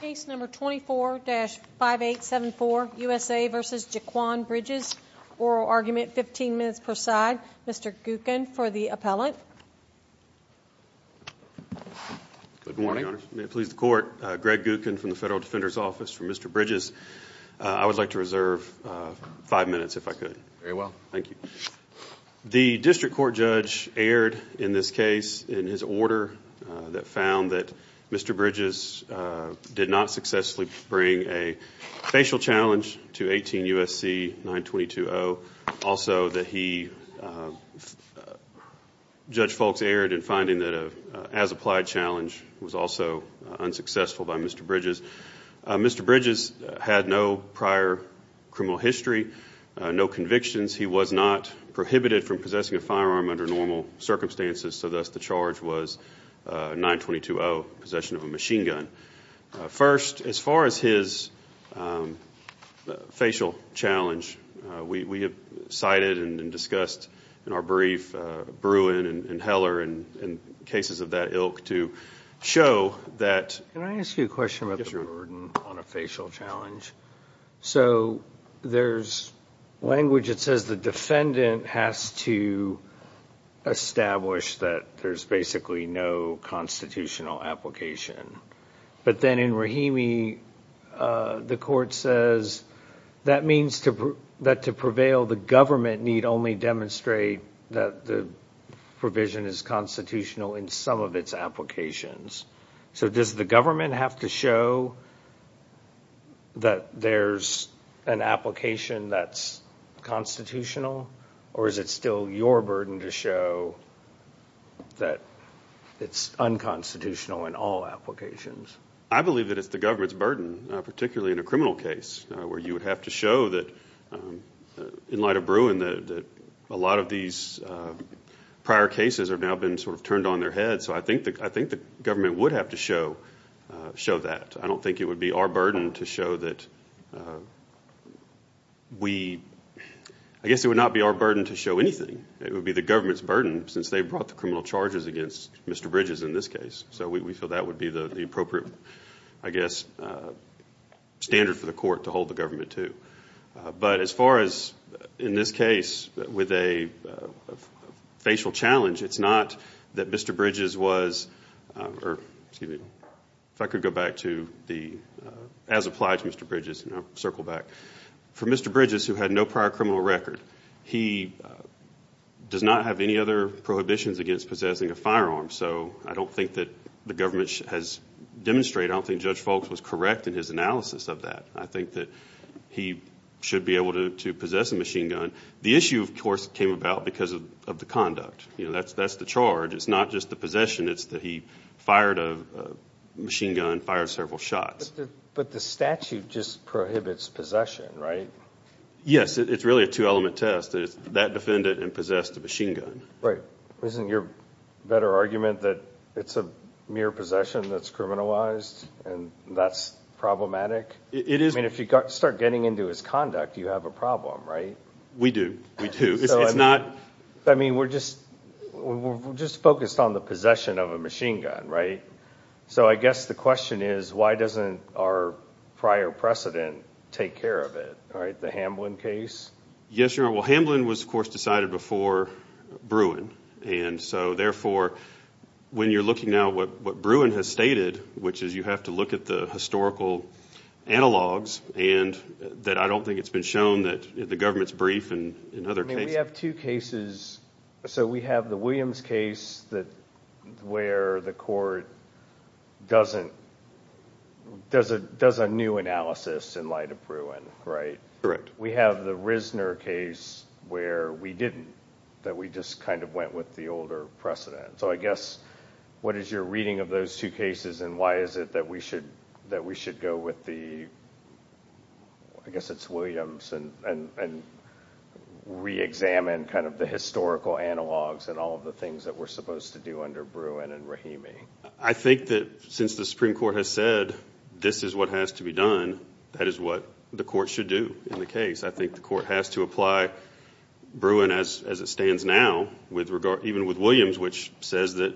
Case number 24-5874, USA v. Jaquan Bridges. Oral argument, 15 minutes per side. Mr. Gookin for the appellant. Good morning, Your Honor. May it please the Court, Greg Gookin from the Federal Defender's Office. For Mr. Bridges, I would like to reserve five minutes if I could. Very well. Thank you. The District Court judge erred in this case in his order that found that Mr. Bridges did not successfully bring a facial challenge to 18 U.S.C. 922-0. Also, Judge Foulkes erred in finding that an as-applied challenge was also unsuccessful by Mr. Bridges. Mr. Bridges had no prior criminal history, no convictions. He was not prohibited from possessing a firearm under normal circumstances, so thus the charge was 922-0, possession of a machine gun. First, as far as his facial challenge, we have cited and discussed in our brief Bruin and Heller and cases of that ilk to show that Can I ask you a question about the burden on a facial challenge? So there's language that says the defendant has to establish that there's basically no constitutional application. But then in Rahimi, the Court says that means that to prevail, the government need only demonstrate that the provision is constitutional in some of its applications. So does the government have to show that there's an application that's constitutional, or is it still your burden to show that it's unconstitutional in all applications? I believe that it's the government's burden, particularly in a criminal case, where you would have to show that in light of Bruin that a lot of these prior cases have now been sort of turned on their heads. So I think the government would have to show that. I don't think it would be our burden to show that we – I guess it would not be our burden to show anything. It would be the government's burden, since they brought the criminal charges against Mr. Bridges in this case. So we feel that would be the appropriate, I guess, standard for the Court to hold the government to. But as far as, in this case, with a facial challenge, it's not that Mr. Bridges was – or, excuse me, if I could go back to the – as applied to Mr. Bridges, and I'll circle back. For Mr. Bridges, who had no prior criminal record, he does not have any other prohibitions against possessing a firearm. So I don't think that the government has demonstrated – I don't think Judge Foulkes was correct in his analysis of that. I think that he should be able to possess a machine gun. The issue, of course, came about because of the conduct. You know, that's the charge. It's not just the possession. It's that he fired a machine gun, fired several shots. But the statute just prohibits possession, right? Yes. It's really a two-element test. It's that defendant and possess the machine gun. Right. Isn't your better argument that it's a mere possession that's criminalized and that's problematic? It is. I mean, if you start getting into his conduct, you have a problem, right? We do. It's not – I mean, we're just – we're just focused on the possession of a machine gun, right? So I guess the question is why doesn't our prior precedent take care of it, right, the Hamblin case? Yes, Your Honor. Well, Hamblin was, of course, decided before Bruin. And so, therefore, when you're looking now at what Bruin has stated, which is you have to look at the historical analogs, and that I don't think it's been shown that the government's brief and other cases – I mean, we have two cases. So we have the Williams case where the court doesn't – does a new analysis in light of Bruin, right? Correct. We have the Risner case where we didn't, that we just kind of went with the older precedent. So I guess what is your reading of those two cases, and why is it that we should – that we should go with the – I guess it's Williams and reexamine kind of the historical analogs and all of the things that we're supposed to do under Bruin and Rahimi? I think that since the Supreme Court has said this is what has to be done, that is what the court should do in the case. I think the court has to apply Bruin as it stands now, even with Williams, which says that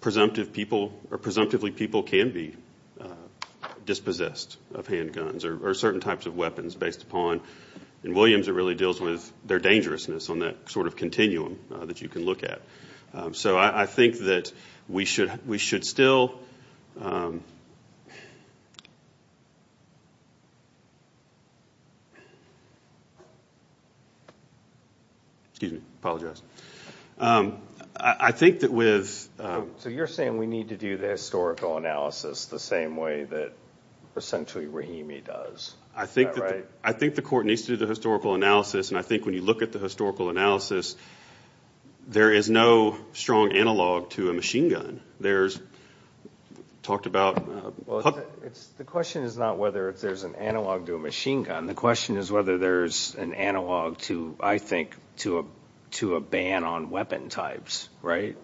presumptively people can be dispossessed of handguns or certain types of weapons based upon – in Williams it really deals with their dangerousness on that sort of continuum that you can look at. So I think that we should still – excuse me, I apologize. I think that with – So you're saying we need to do the historical analysis the same way that essentially Rahimi does. Is that right? I think the court needs to do the historical analysis, and I think when you look at the historical analysis, there is no strong analog to a machine gun. There's – talked about – Well, the question is not whether there's an analog to a machine gun. The question is whether there's an analog to, I think, to a ban on weapon types, right?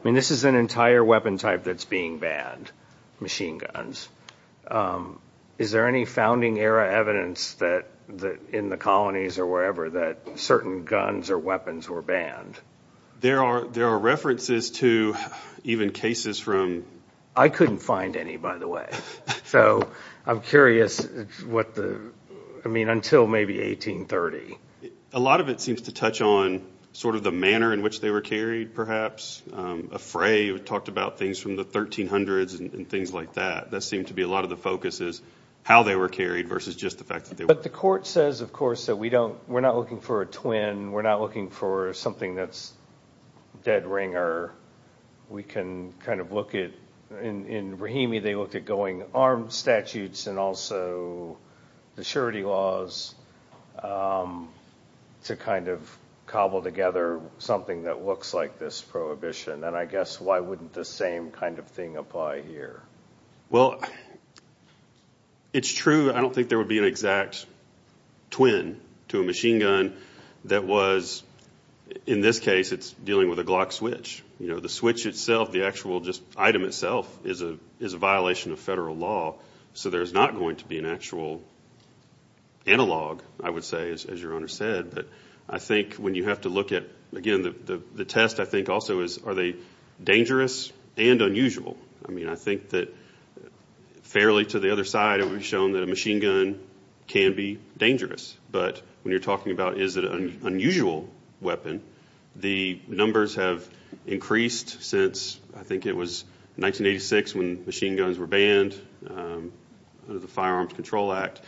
I mean, this is an entire weapon type that's being banned, machine guns. Is there any founding era evidence in the colonies or wherever that certain guns or weapons were banned? There are references to even cases from – I couldn't find any, by the way. So I'm curious what the – I mean, until maybe 1830. A lot of it seems to touch on sort of the manner in which they were carried, perhaps. Afray talked about things from the 1300s and things like that. That seemed to be a lot of the focus is how they were carried versus just the fact that they were – But the court says, of course, that we don't – we're not looking for a twin. We're not looking for something that's dead ringer. We can kind of look at – in Rahimi, they looked at going armed statutes and also the surety laws to kind of cobble together something that looks like this prohibition. And I guess why wouldn't the same kind of thing apply here? Well, it's true. I don't think there would be an exact twin to a machine gun that was – in this case, it's dealing with a Glock switch. The switch itself, the actual item itself, is a violation of federal law. So there's not going to be an actual analog, I would say, as your Honor said. But I think when you have to look at – again, the test, I think, also is are they dangerous and unusual? I mean, I think that fairly to the other side, it would be shown that a machine gun can be dangerous. But when you're talking about is it an unusual weapon, the numbers have increased since – I think it was 1986 when machine guns were banned under the Firearms Control Act.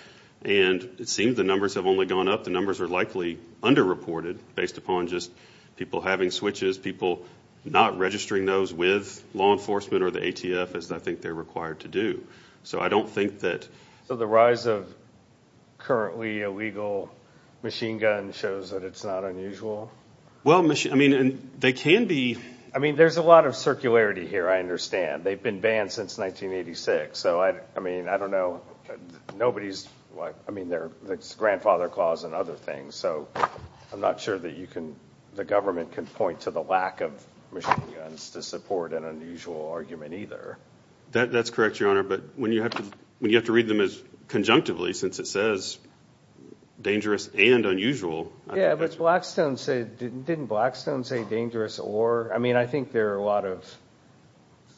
And it seems the numbers have only gone up. The numbers are likely underreported based upon just people having switches, people not registering those with law enforcement or the ATF, as I think they're required to do. So I don't think that – So the rise of currently illegal machine guns shows that it's not unusual? Well, I mean, they can be – I mean, there's a lot of circularity here, I understand. They've been banned since 1986. So, I mean, I don't know. Nobody's – I mean, there's Grandfather Clause and other things. So I'm not sure that you can – the government can point to the lack of machine guns to support an unusual argument either. That's correct, Your Honor. But when you have to read them as conjunctively, since it says dangerous and unusual. Yeah, but Blackstone said – didn't Blackstone say dangerous or – I mean, I think there are a lot of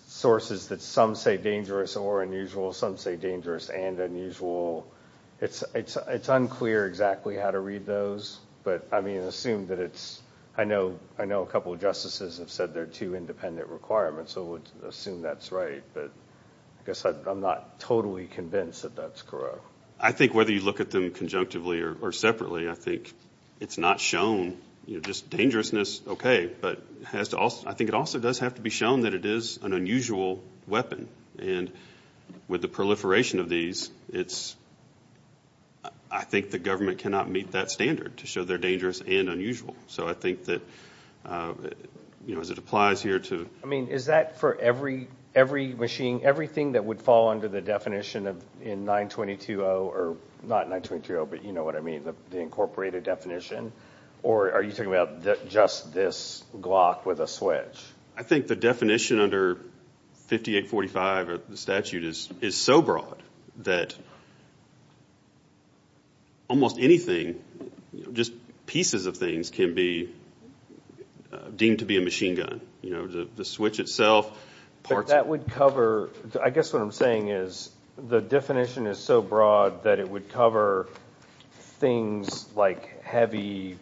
sources that some say dangerous or unusual. Some say dangerous and unusual. It's unclear exactly how to read those. But, I mean, assume that it's – I know a couple of justices have said they're two independent requirements, so we'll assume that's right. But I guess I'm not totally convinced that that's correct. I think whether you look at them conjunctively or separately, I think it's not shown. Just dangerousness, okay, but has to – I think it also does have to be shown that it is an unusual weapon. And with the proliferation of these, it's – I think the government cannot meet that standard to show they're dangerous and unusual. So I think that, you know, as it applies here to – I mean, is that for every machine, everything that would fall under the definition in 922-0 – or not 922-0, but you know what I mean, the incorporated definition? Or are you talking about just this Glock with a switch? I think the definition under 5845 of the statute is so broad that almost anything, just pieces of things, can be deemed to be a machine gun. You know, the switch itself – But that would cover – I guess what I'm saying is the definition is so broad that it would cover things like heavy,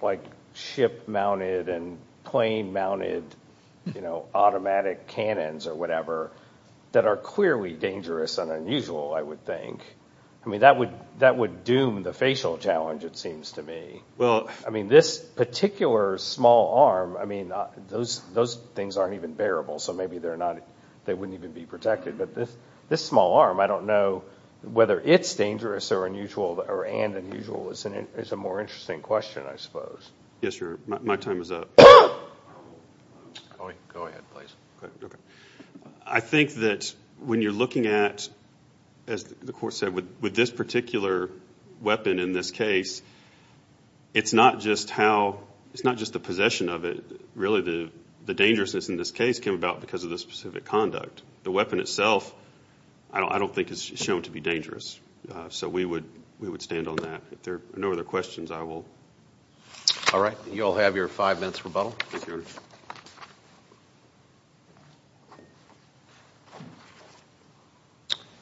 like ship-mounted and plane-mounted, you know, automatic cannons or whatever that are clearly dangerous and unusual, I would think. I mean, that would doom the facial challenge, it seems to me. I mean, this particular small arm, I mean, those things aren't even bearable, so maybe they're not – they wouldn't even be protected. But this small arm, I don't know whether it's dangerous or unusual or and unusual is a more interesting question, I suppose. Yes, your – my time is up. Go ahead, please. I think that when you're looking at, as the court said, with this particular weapon in this case, it's not just how – it's not just the possession of it. Really, the dangerousness in this case came about because of the specific conduct. The weapon itself I don't think is shown to be dangerous. So we would stand on that. If there are no other questions, I will. All right, you all have your five minutes rebuttal. Thank you, Your Honor.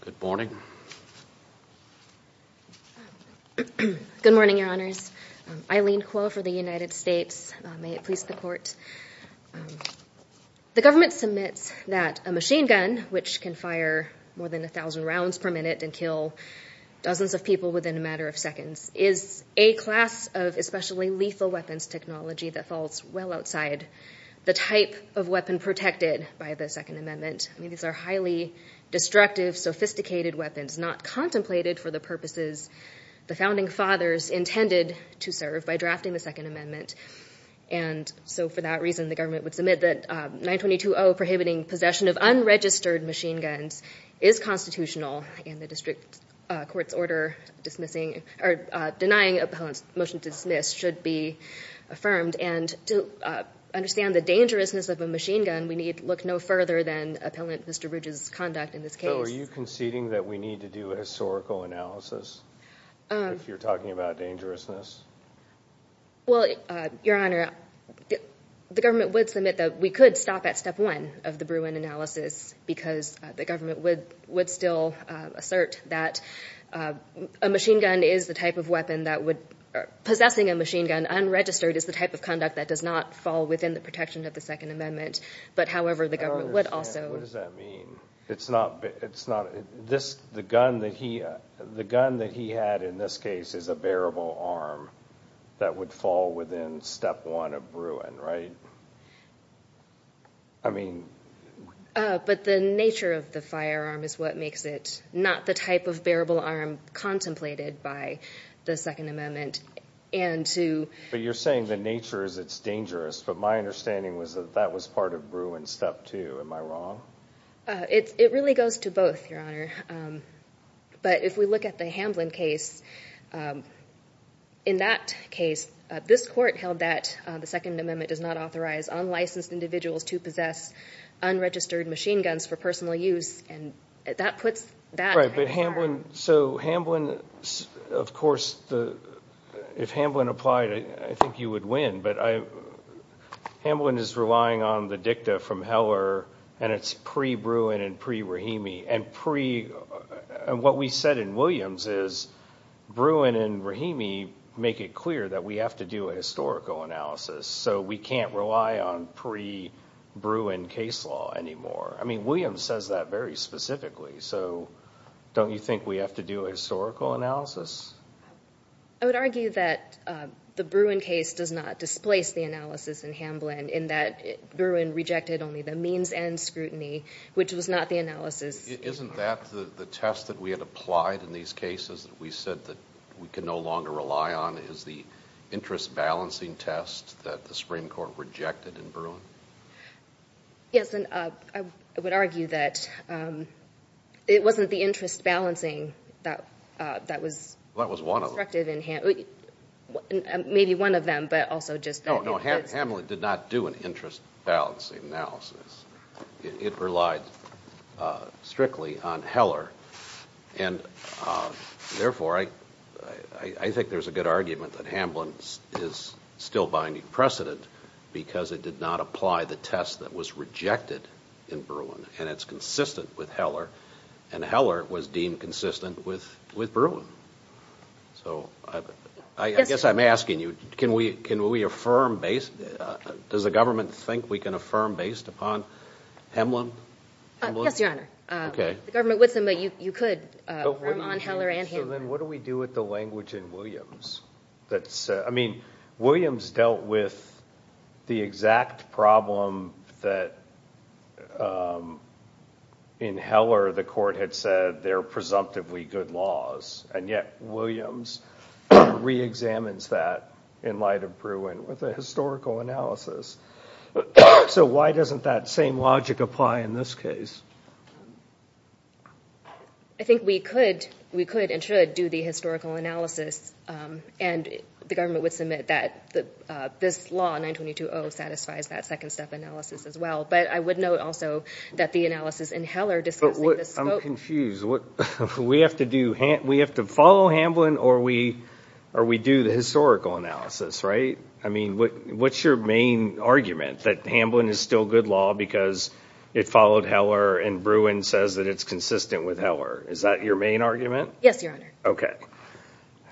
Good morning. Good morning, Your Honors. Eileen Kuo for the United States. May it please the Court. The government submits that a machine gun, which can fire more than 1,000 rounds per minute and kill dozens of people within a matter of seconds, is a class of especially lethal weapons technology that falls well outside the type of weapon protected by the Second Amendment. I mean, these are highly destructive, sophisticated weapons, not contemplated for the purposes the Founding Fathers intended to serve by drafting the Second Amendment. And so for that reason, the government would submit that 922.0, prohibiting possession of unregistered machine guns, is constitutional, and the district court's order denying appellant's motion to dismiss should be affirmed. And to understand the dangerousness of a machine gun, we need to look no further than appellant Mr. Bridges' conduct in this case. So are you conceding that we need to do a historical analysis if you're talking about dangerousness? Well, Your Honor, the government would submit that we could stop at step one of the Bruin analysis because the government would still assert that a machine gun is the type of weapon that would— possessing a machine gun unregistered is the type of conduct that does not fall within the protection of the Second Amendment. But however, the government would also— I don't understand. What does that mean? It's not—the gun that he had in this case is a bearable arm that would fall within step one of Bruin, right? I mean— But the nature of the firearm is what makes it not the type of bearable arm contemplated by the Second Amendment and to— But you're saying the nature is it's dangerous. But my understanding was that that was part of Bruin step two. Am I wrong? It really goes to both, Your Honor. But if we look at the Hamblin case, in that case, this court held that the Second Amendment does not authorize unlicensed individuals to possess unregistered machine guns for personal use. And that puts that— Right, but Hamblin—so Hamblin—of course, if Hamblin applied, I think you would win. But Hamblin is relying on the dicta from Heller, and it's pre-Bruin and pre-Rahimi. And what we said in Williams is Bruin and Rahimi make it clear that we have to do a historical analysis. So we can't rely on pre-Bruin case law anymore. I mean, Williams says that very specifically. So don't you think we have to do a historical analysis? I would argue that the Bruin case does not displace the analysis in Hamblin, in that Bruin rejected only the means and scrutiny, which was not the analysis— Isn't that the test that we had applied in these cases that we said that we can no longer rely on is the interest-balancing test that the Supreme Court rejected in Bruin? Yes, and I would argue that it wasn't the interest-balancing that was— That was one of them. Maybe one of them, but also just— No, no, Hamblin did not do an interest-balancing analysis. It relied strictly on Heller. And therefore, I think there's a good argument that Hamblin is still binding precedent because it did not apply the test that was rejected in Bruin, and it's consistent with Heller, and Heller was deemed consistent with Bruin. So I guess I'm asking you, can we affirm— Does the government think we can affirm based upon Hamblin? Yes, Your Honor. The government would, but you could affirm on Heller and Hamblin. So then what do we do with the language in Williams? I mean, Williams dealt with the exact problem that, in Heller, the court had said they're presumptively good laws, and yet Williams reexamines that in light of Bruin with a historical analysis. So why doesn't that same logic apply in this case? I think we could and should do the historical analysis, and the government would submit that this law, 922-0, satisfies that second-step analysis as well. But I would note also that the analysis in Heller discussing the scope— But I'm confused. We have to follow Hamblin, or we do the historical analysis, right? I mean, what's your main argument, that Hamblin is still good law because it followed Heller and Bruin says that it's consistent with Heller? Is that your main argument? Yes, Your Honor. Okay.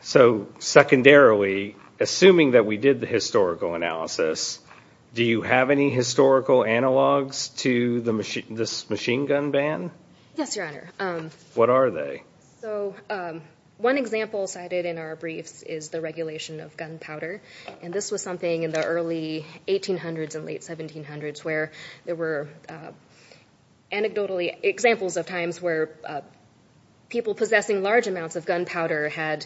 So secondarily, assuming that we did the historical analysis, do you have any historical analogs to this machine gun ban? Yes, Your Honor. What are they? So one example cited in our briefs is the regulation of gunpowder, and this was something in the early 1800s and late 1700s where there were anecdotally examples of times where people possessing large amounts of gunpowder had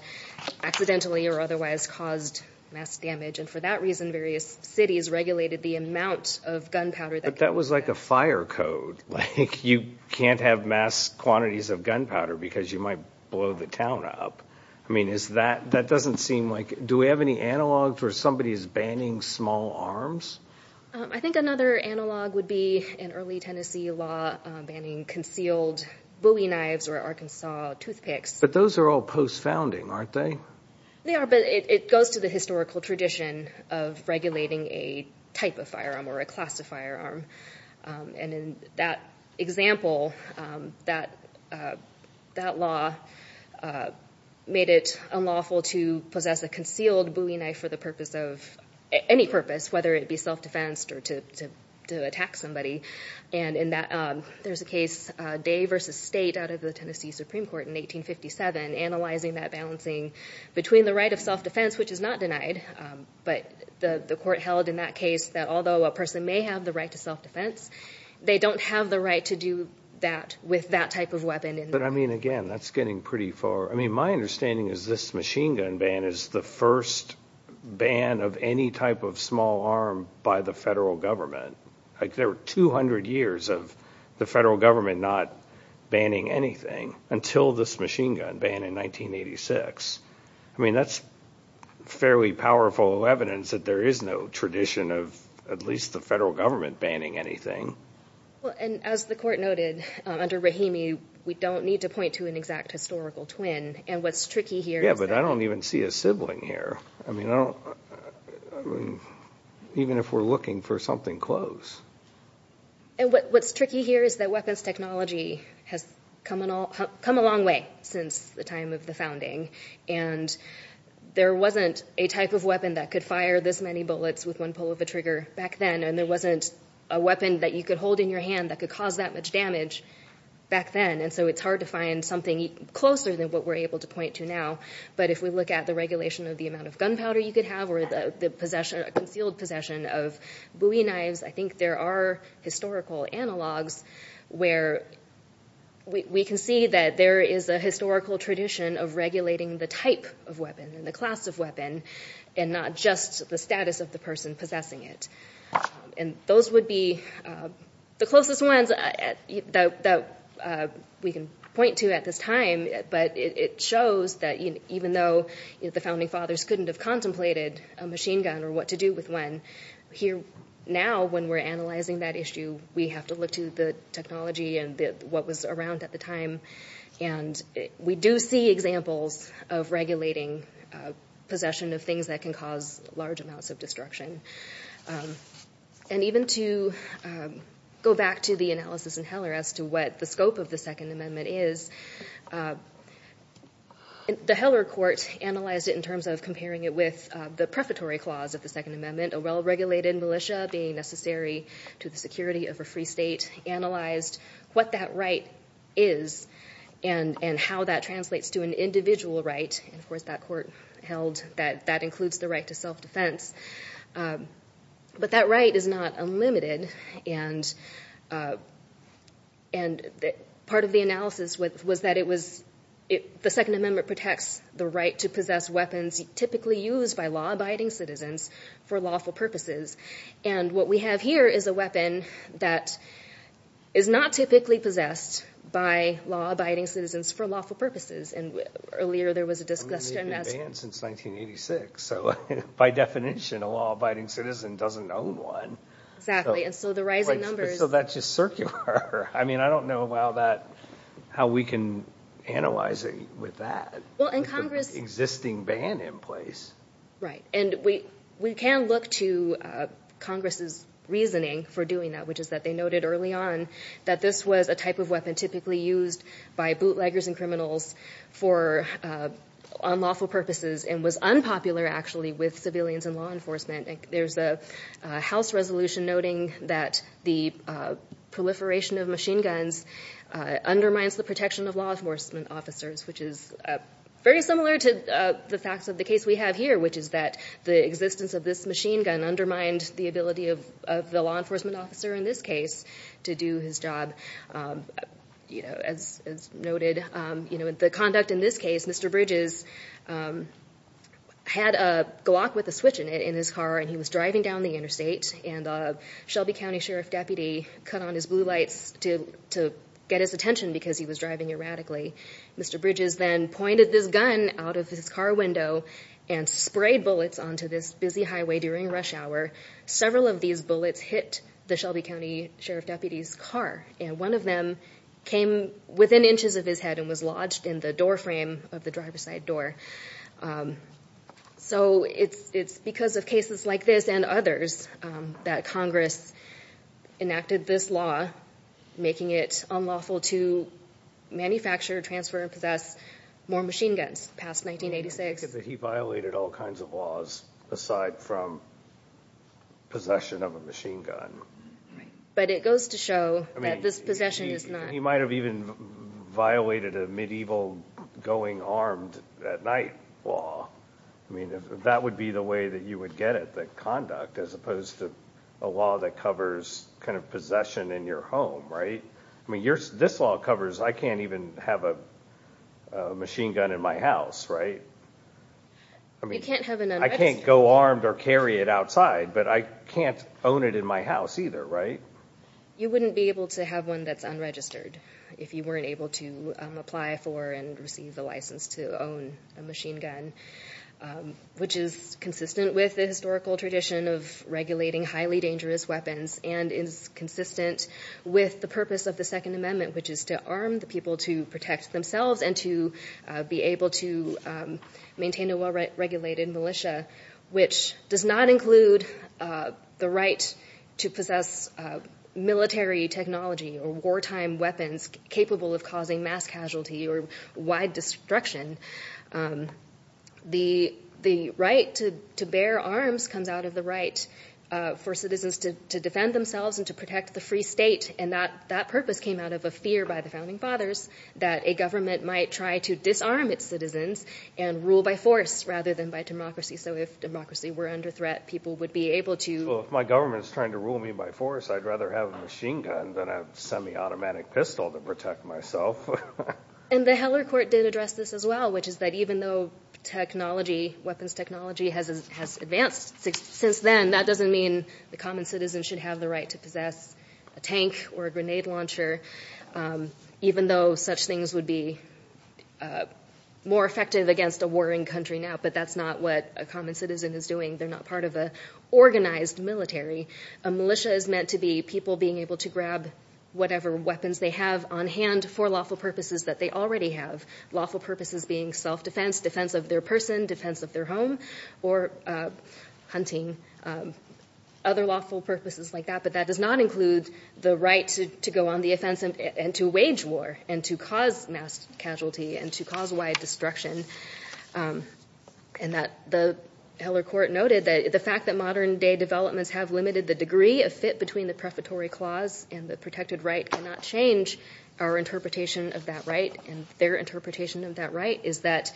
accidentally or otherwise caused mass damage. And for that reason, various cities regulated the amount of gunpowder. But that was like a fire code. Like you can't have mass quantities of gunpowder because you might blow the town up. I mean, that doesn't seem like— Do we have any analogs where somebody is banning small arms? I think another analog would be in early Tennessee law banning concealed Bowie knives or Arkansas toothpicks. But those are all post-founding, aren't they? They are, but it goes to the historical tradition of regulating a type of firearm or a class of firearm. And in that example, that law made it unlawful to possess a concealed Bowie knife for the purpose of any purpose, whether it be self-defense or to attack somebody. And in that, there's a case, Day v. State, out of the Tennessee Supreme Court in 1857, analyzing that balancing between the right of self-defense, which is not denied, but the court held in that case that although a person may have the right to self-defense, they don't have the right to do that with that type of weapon. But I mean, again, that's getting pretty far. I mean, my understanding is this machine gun ban is the first ban of any type of small arm by the federal government. Like, there were 200 years of the federal government not banning anything until this machine gun ban in 1986. I mean, that's fairly powerful evidence that there is no tradition of at least the federal government banning anything. Well, and as the court noted, under Rahimi, we don't need to point to an exact historical twin. And what's tricky here is that... Yeah, but I don't even see a sibling here. I mean, I don't... Even if we're looking for something close. And what's tricky here is that weapons technology has come a long way since the time of the founding. And there wasn't a type of weapon that could fire this many bullets with one pull of a trigger back then, and there wasn't a weapon that you could hold in your hand that could cause that much damage back then. And so it's hard to find something closer than what we're able to point to now. But if we look at the regulation of the amount of gunpowder you could have or the concealed possession of Bowie knives, I think there are historical analogs where we can see that there is a historical tradition of regulating the type of weapon and the class of weapon and not just the status of the person possessing it. And those would be the closest ones that we can point to at this time, but it shows that even though the Founding Fathers couldn't have contemplated a machine gun or what to do with one, here now, when we're analysing that issue, we have to look to the technology and what was around at the time. And we do see examples of regulating possession of things that can cause large amounts of destruction. And even to go back to the analysis in Heller as to what the scope of the Second Amendment is, the Heller court analysed it in terms of comparing it with the prefatory clause of the Second Amendment, a well-regulated militia being necessary to the security of a free state, analysed what that right is and how that translates to an individual right, and of course that court held that that includes the right to self-defence, but that right is not unlimited. And part of the analysis was that the Second Amendment protects the right to possess weapons typically used by law-abiding citizens for lawful purposes. And what we have here is a weapon that is not typically possessed by law-abiding citizens for lawful purposes. And earlier there was a discussion that's... So by definition, a law-abiding citizen doesn't own one. Exactly, and so the rising numbers... So that's just circular. I mean, I don't know how we can analyse it with that. Well, and Congress... With the existing ban in place. Right, and we can look to Congress's reasoning for doing that, which is that they noted early on that this was a type of weapon typically used by bootleggers and criminals for unlawful purposes and was unpopular, actually, with civilians and law enforcement. There's a House resolution noting that the proliferation of machine guns undermines the protection of law enforcement officers, which is very similar to the facts of the case we have here, which is that the existence of this machine gun undermined the ability of the law enforcement officer in this case to do his job. As noted, the conduct in this case, Mr Bridges had a Glock with a switch in it in his car and he was driving down the interstate and a Shelby County Sheriff deputy cut on his blue lights to get his attention because he was driving erratically. Mr Bridges then pointed this gun out of his car window and sprayed bullets onto this busy highway during rush hour. Several of these bullets hit the Shelby County Sheriff deputy's car and one of them came within inches of his head and was lodged in the door frame of the driver's side door. So it's because of cases like this and others that Congress enacted this law, making it unlawful to manufacture, transfer, and possess more machine guns past 1986. I take it that he violated all kinds of laws aside from possession of a machine gun. But it goes to show that this possession is not... He might have even violated a medieval going armed at night law. That would be the way that you would get it, the conduct, as opposed to a law that covers possession in your home. This law covers I can't even have a machine gun in my house. I can't go armed or carry it outside, but I can't own it in my house either. You wouldn't be able to have one that's unregistered if you weren't able to apply for and receive the license to own a machine gun, which is consistent with the historical tradition of regulating highly dangerous weapons and is consistent with the purpose of the Second Amendment, which is to arm the people to protect themselves and to be able to maintain a well-regulated militia, which does not include the right to possess military technology or wartime weapons capable of causing mass casualty or wide destruction. The right to bear arms comes out of the right for citizens to defend themselves and to protect the free state. That purpose came out of a fear by the Founding Fathers that a government might try to disarm its citizens and rule by force rather than by democracy. If democracy were under threat, people would be able to... If my government is trying to rule me by force, I'd rather have a machine gun than a semi-automatic pistol to protect myself. The Heller Court did address this as well, which is that even though technology, weapons technology, has advanced since then, that doesn't mean the common citizen should have the right to possess a tank or a grenade launcher, even though such things would be more effective against a warring country now, but that's not what a common citizen is doing. They're not part of an organized military. A militia is meant to be people being able to grab whatever weapons they have on hand for lawful purposes that they already have, lawful purposes being self-defense, defense of their person, defense of their home, or hunting, other lawful purposes like that, but that does not include the right to go on the offensive and to wage war and to cause mass casualty and to cause wide destruction. And the Heller Court noted that the fact that modern-day developments have limited the degree of fit between the prefatory clause and the protected right cannot change our interpretation of that right and their interpretation of that right is that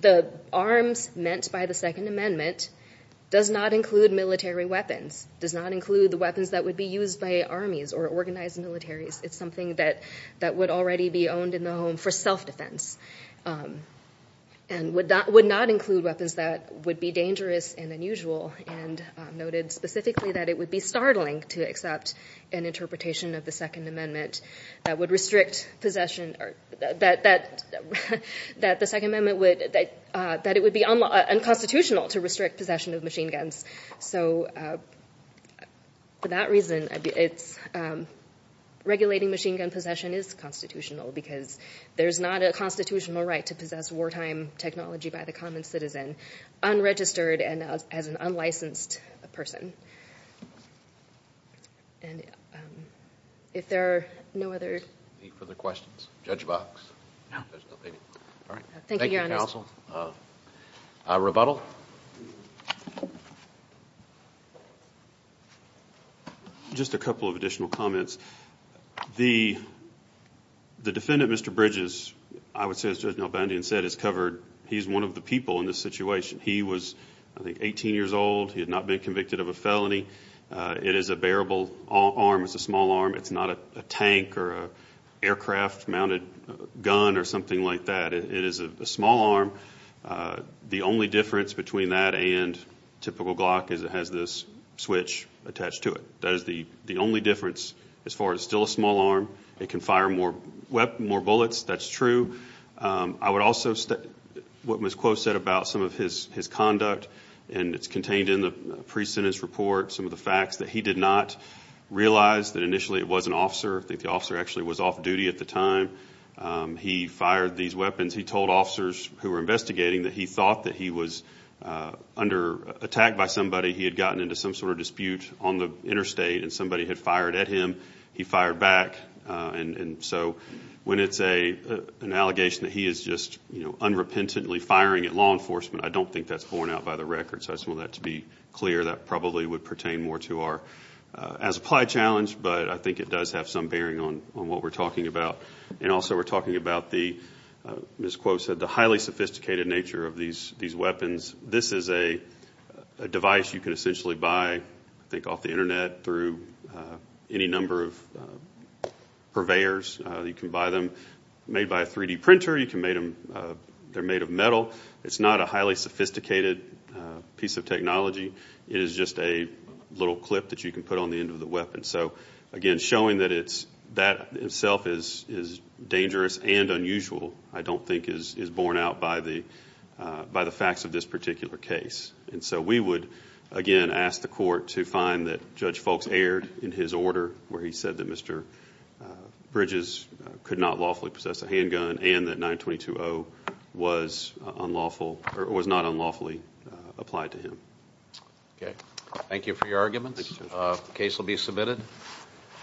the arms meant by the Second Amendment does not include military weapons, does not include the weapons that would be used by armies or organized militaries. It's something that would already be owned in the home for self-defense and would not include weapons that would be dangerous and unusual, and noted specifically that it would be startling to accept an interpretation of the Second Amendment that would restrict possession, that the Second Amendment would, that it would be unconstitutional to restrict possession of machine guns. So for that reason, regulating machine gun possession is constitutional because there's not a constitutional right to possess wartime technology by the common citizen unregistered and as an unlicensed person. And if there are no other... Any further questions? Judge Box? All right. Thank you, Your Honor. Thank you, counsel. Rebuttal? Just a couple of additional comments. The defendant, Mr. Bridges, I would say, as Judge Nalbandian said, has covered, he's one of the people in this situation. He was, I think, 18 years old. He had not been convicted of a felony. It is a bearable arm. It's a small arm. It's not a tank or an aircraft-mounted gun or something like that. It is a small arm. The only difference between that and typical Glock is it has this switch attached to it. That is the only difference as far as it's still a small arm. It can fire more bullets. That's true. I would also... What Ms. Kuo said about some of his conduct, and it's contained in the pre-sentence report, some of the facts that he did not realize that initially it was an officer. I think the officer actually was off-duty at the time. He fired these weapons. He told officers who were investigating that he thought that he was under attack by somebody. He had gotten into some sort of dispute on the interstate, and somebody had fired at him. He fired back. So when it's an allegation that he is just, you know, unrepentantly firing at law enforcement, I don't think that's borne out by the record. So I just want that to be clear. That probably would pertain more to our as-applied challenge, but I think it does have some bearing on what we're talking about. And also we're talking about, as Ms. Kuo said, the highly sophisticated nature of these weapons. This is a device you can essentially buy, I think, off the Internet through any number of purveyors. You can buy them made by a 3-D printer. They're made of metal. It's not a highly sophisticated piece of technology. It is just a little clip that you can put on the end of the weapon. So, again, showing that that itself is dangerous and unusual I don't think is borne out by the facts of this particular case. And so we would, again, ask the court to find that Judge Foulkes erred in his order where he said that Mr. Bridges could not lawfully possess a handgun and that 922-0 was not unlawfully applied to him. Okay. Thank you for your arguments. The case will be submitted.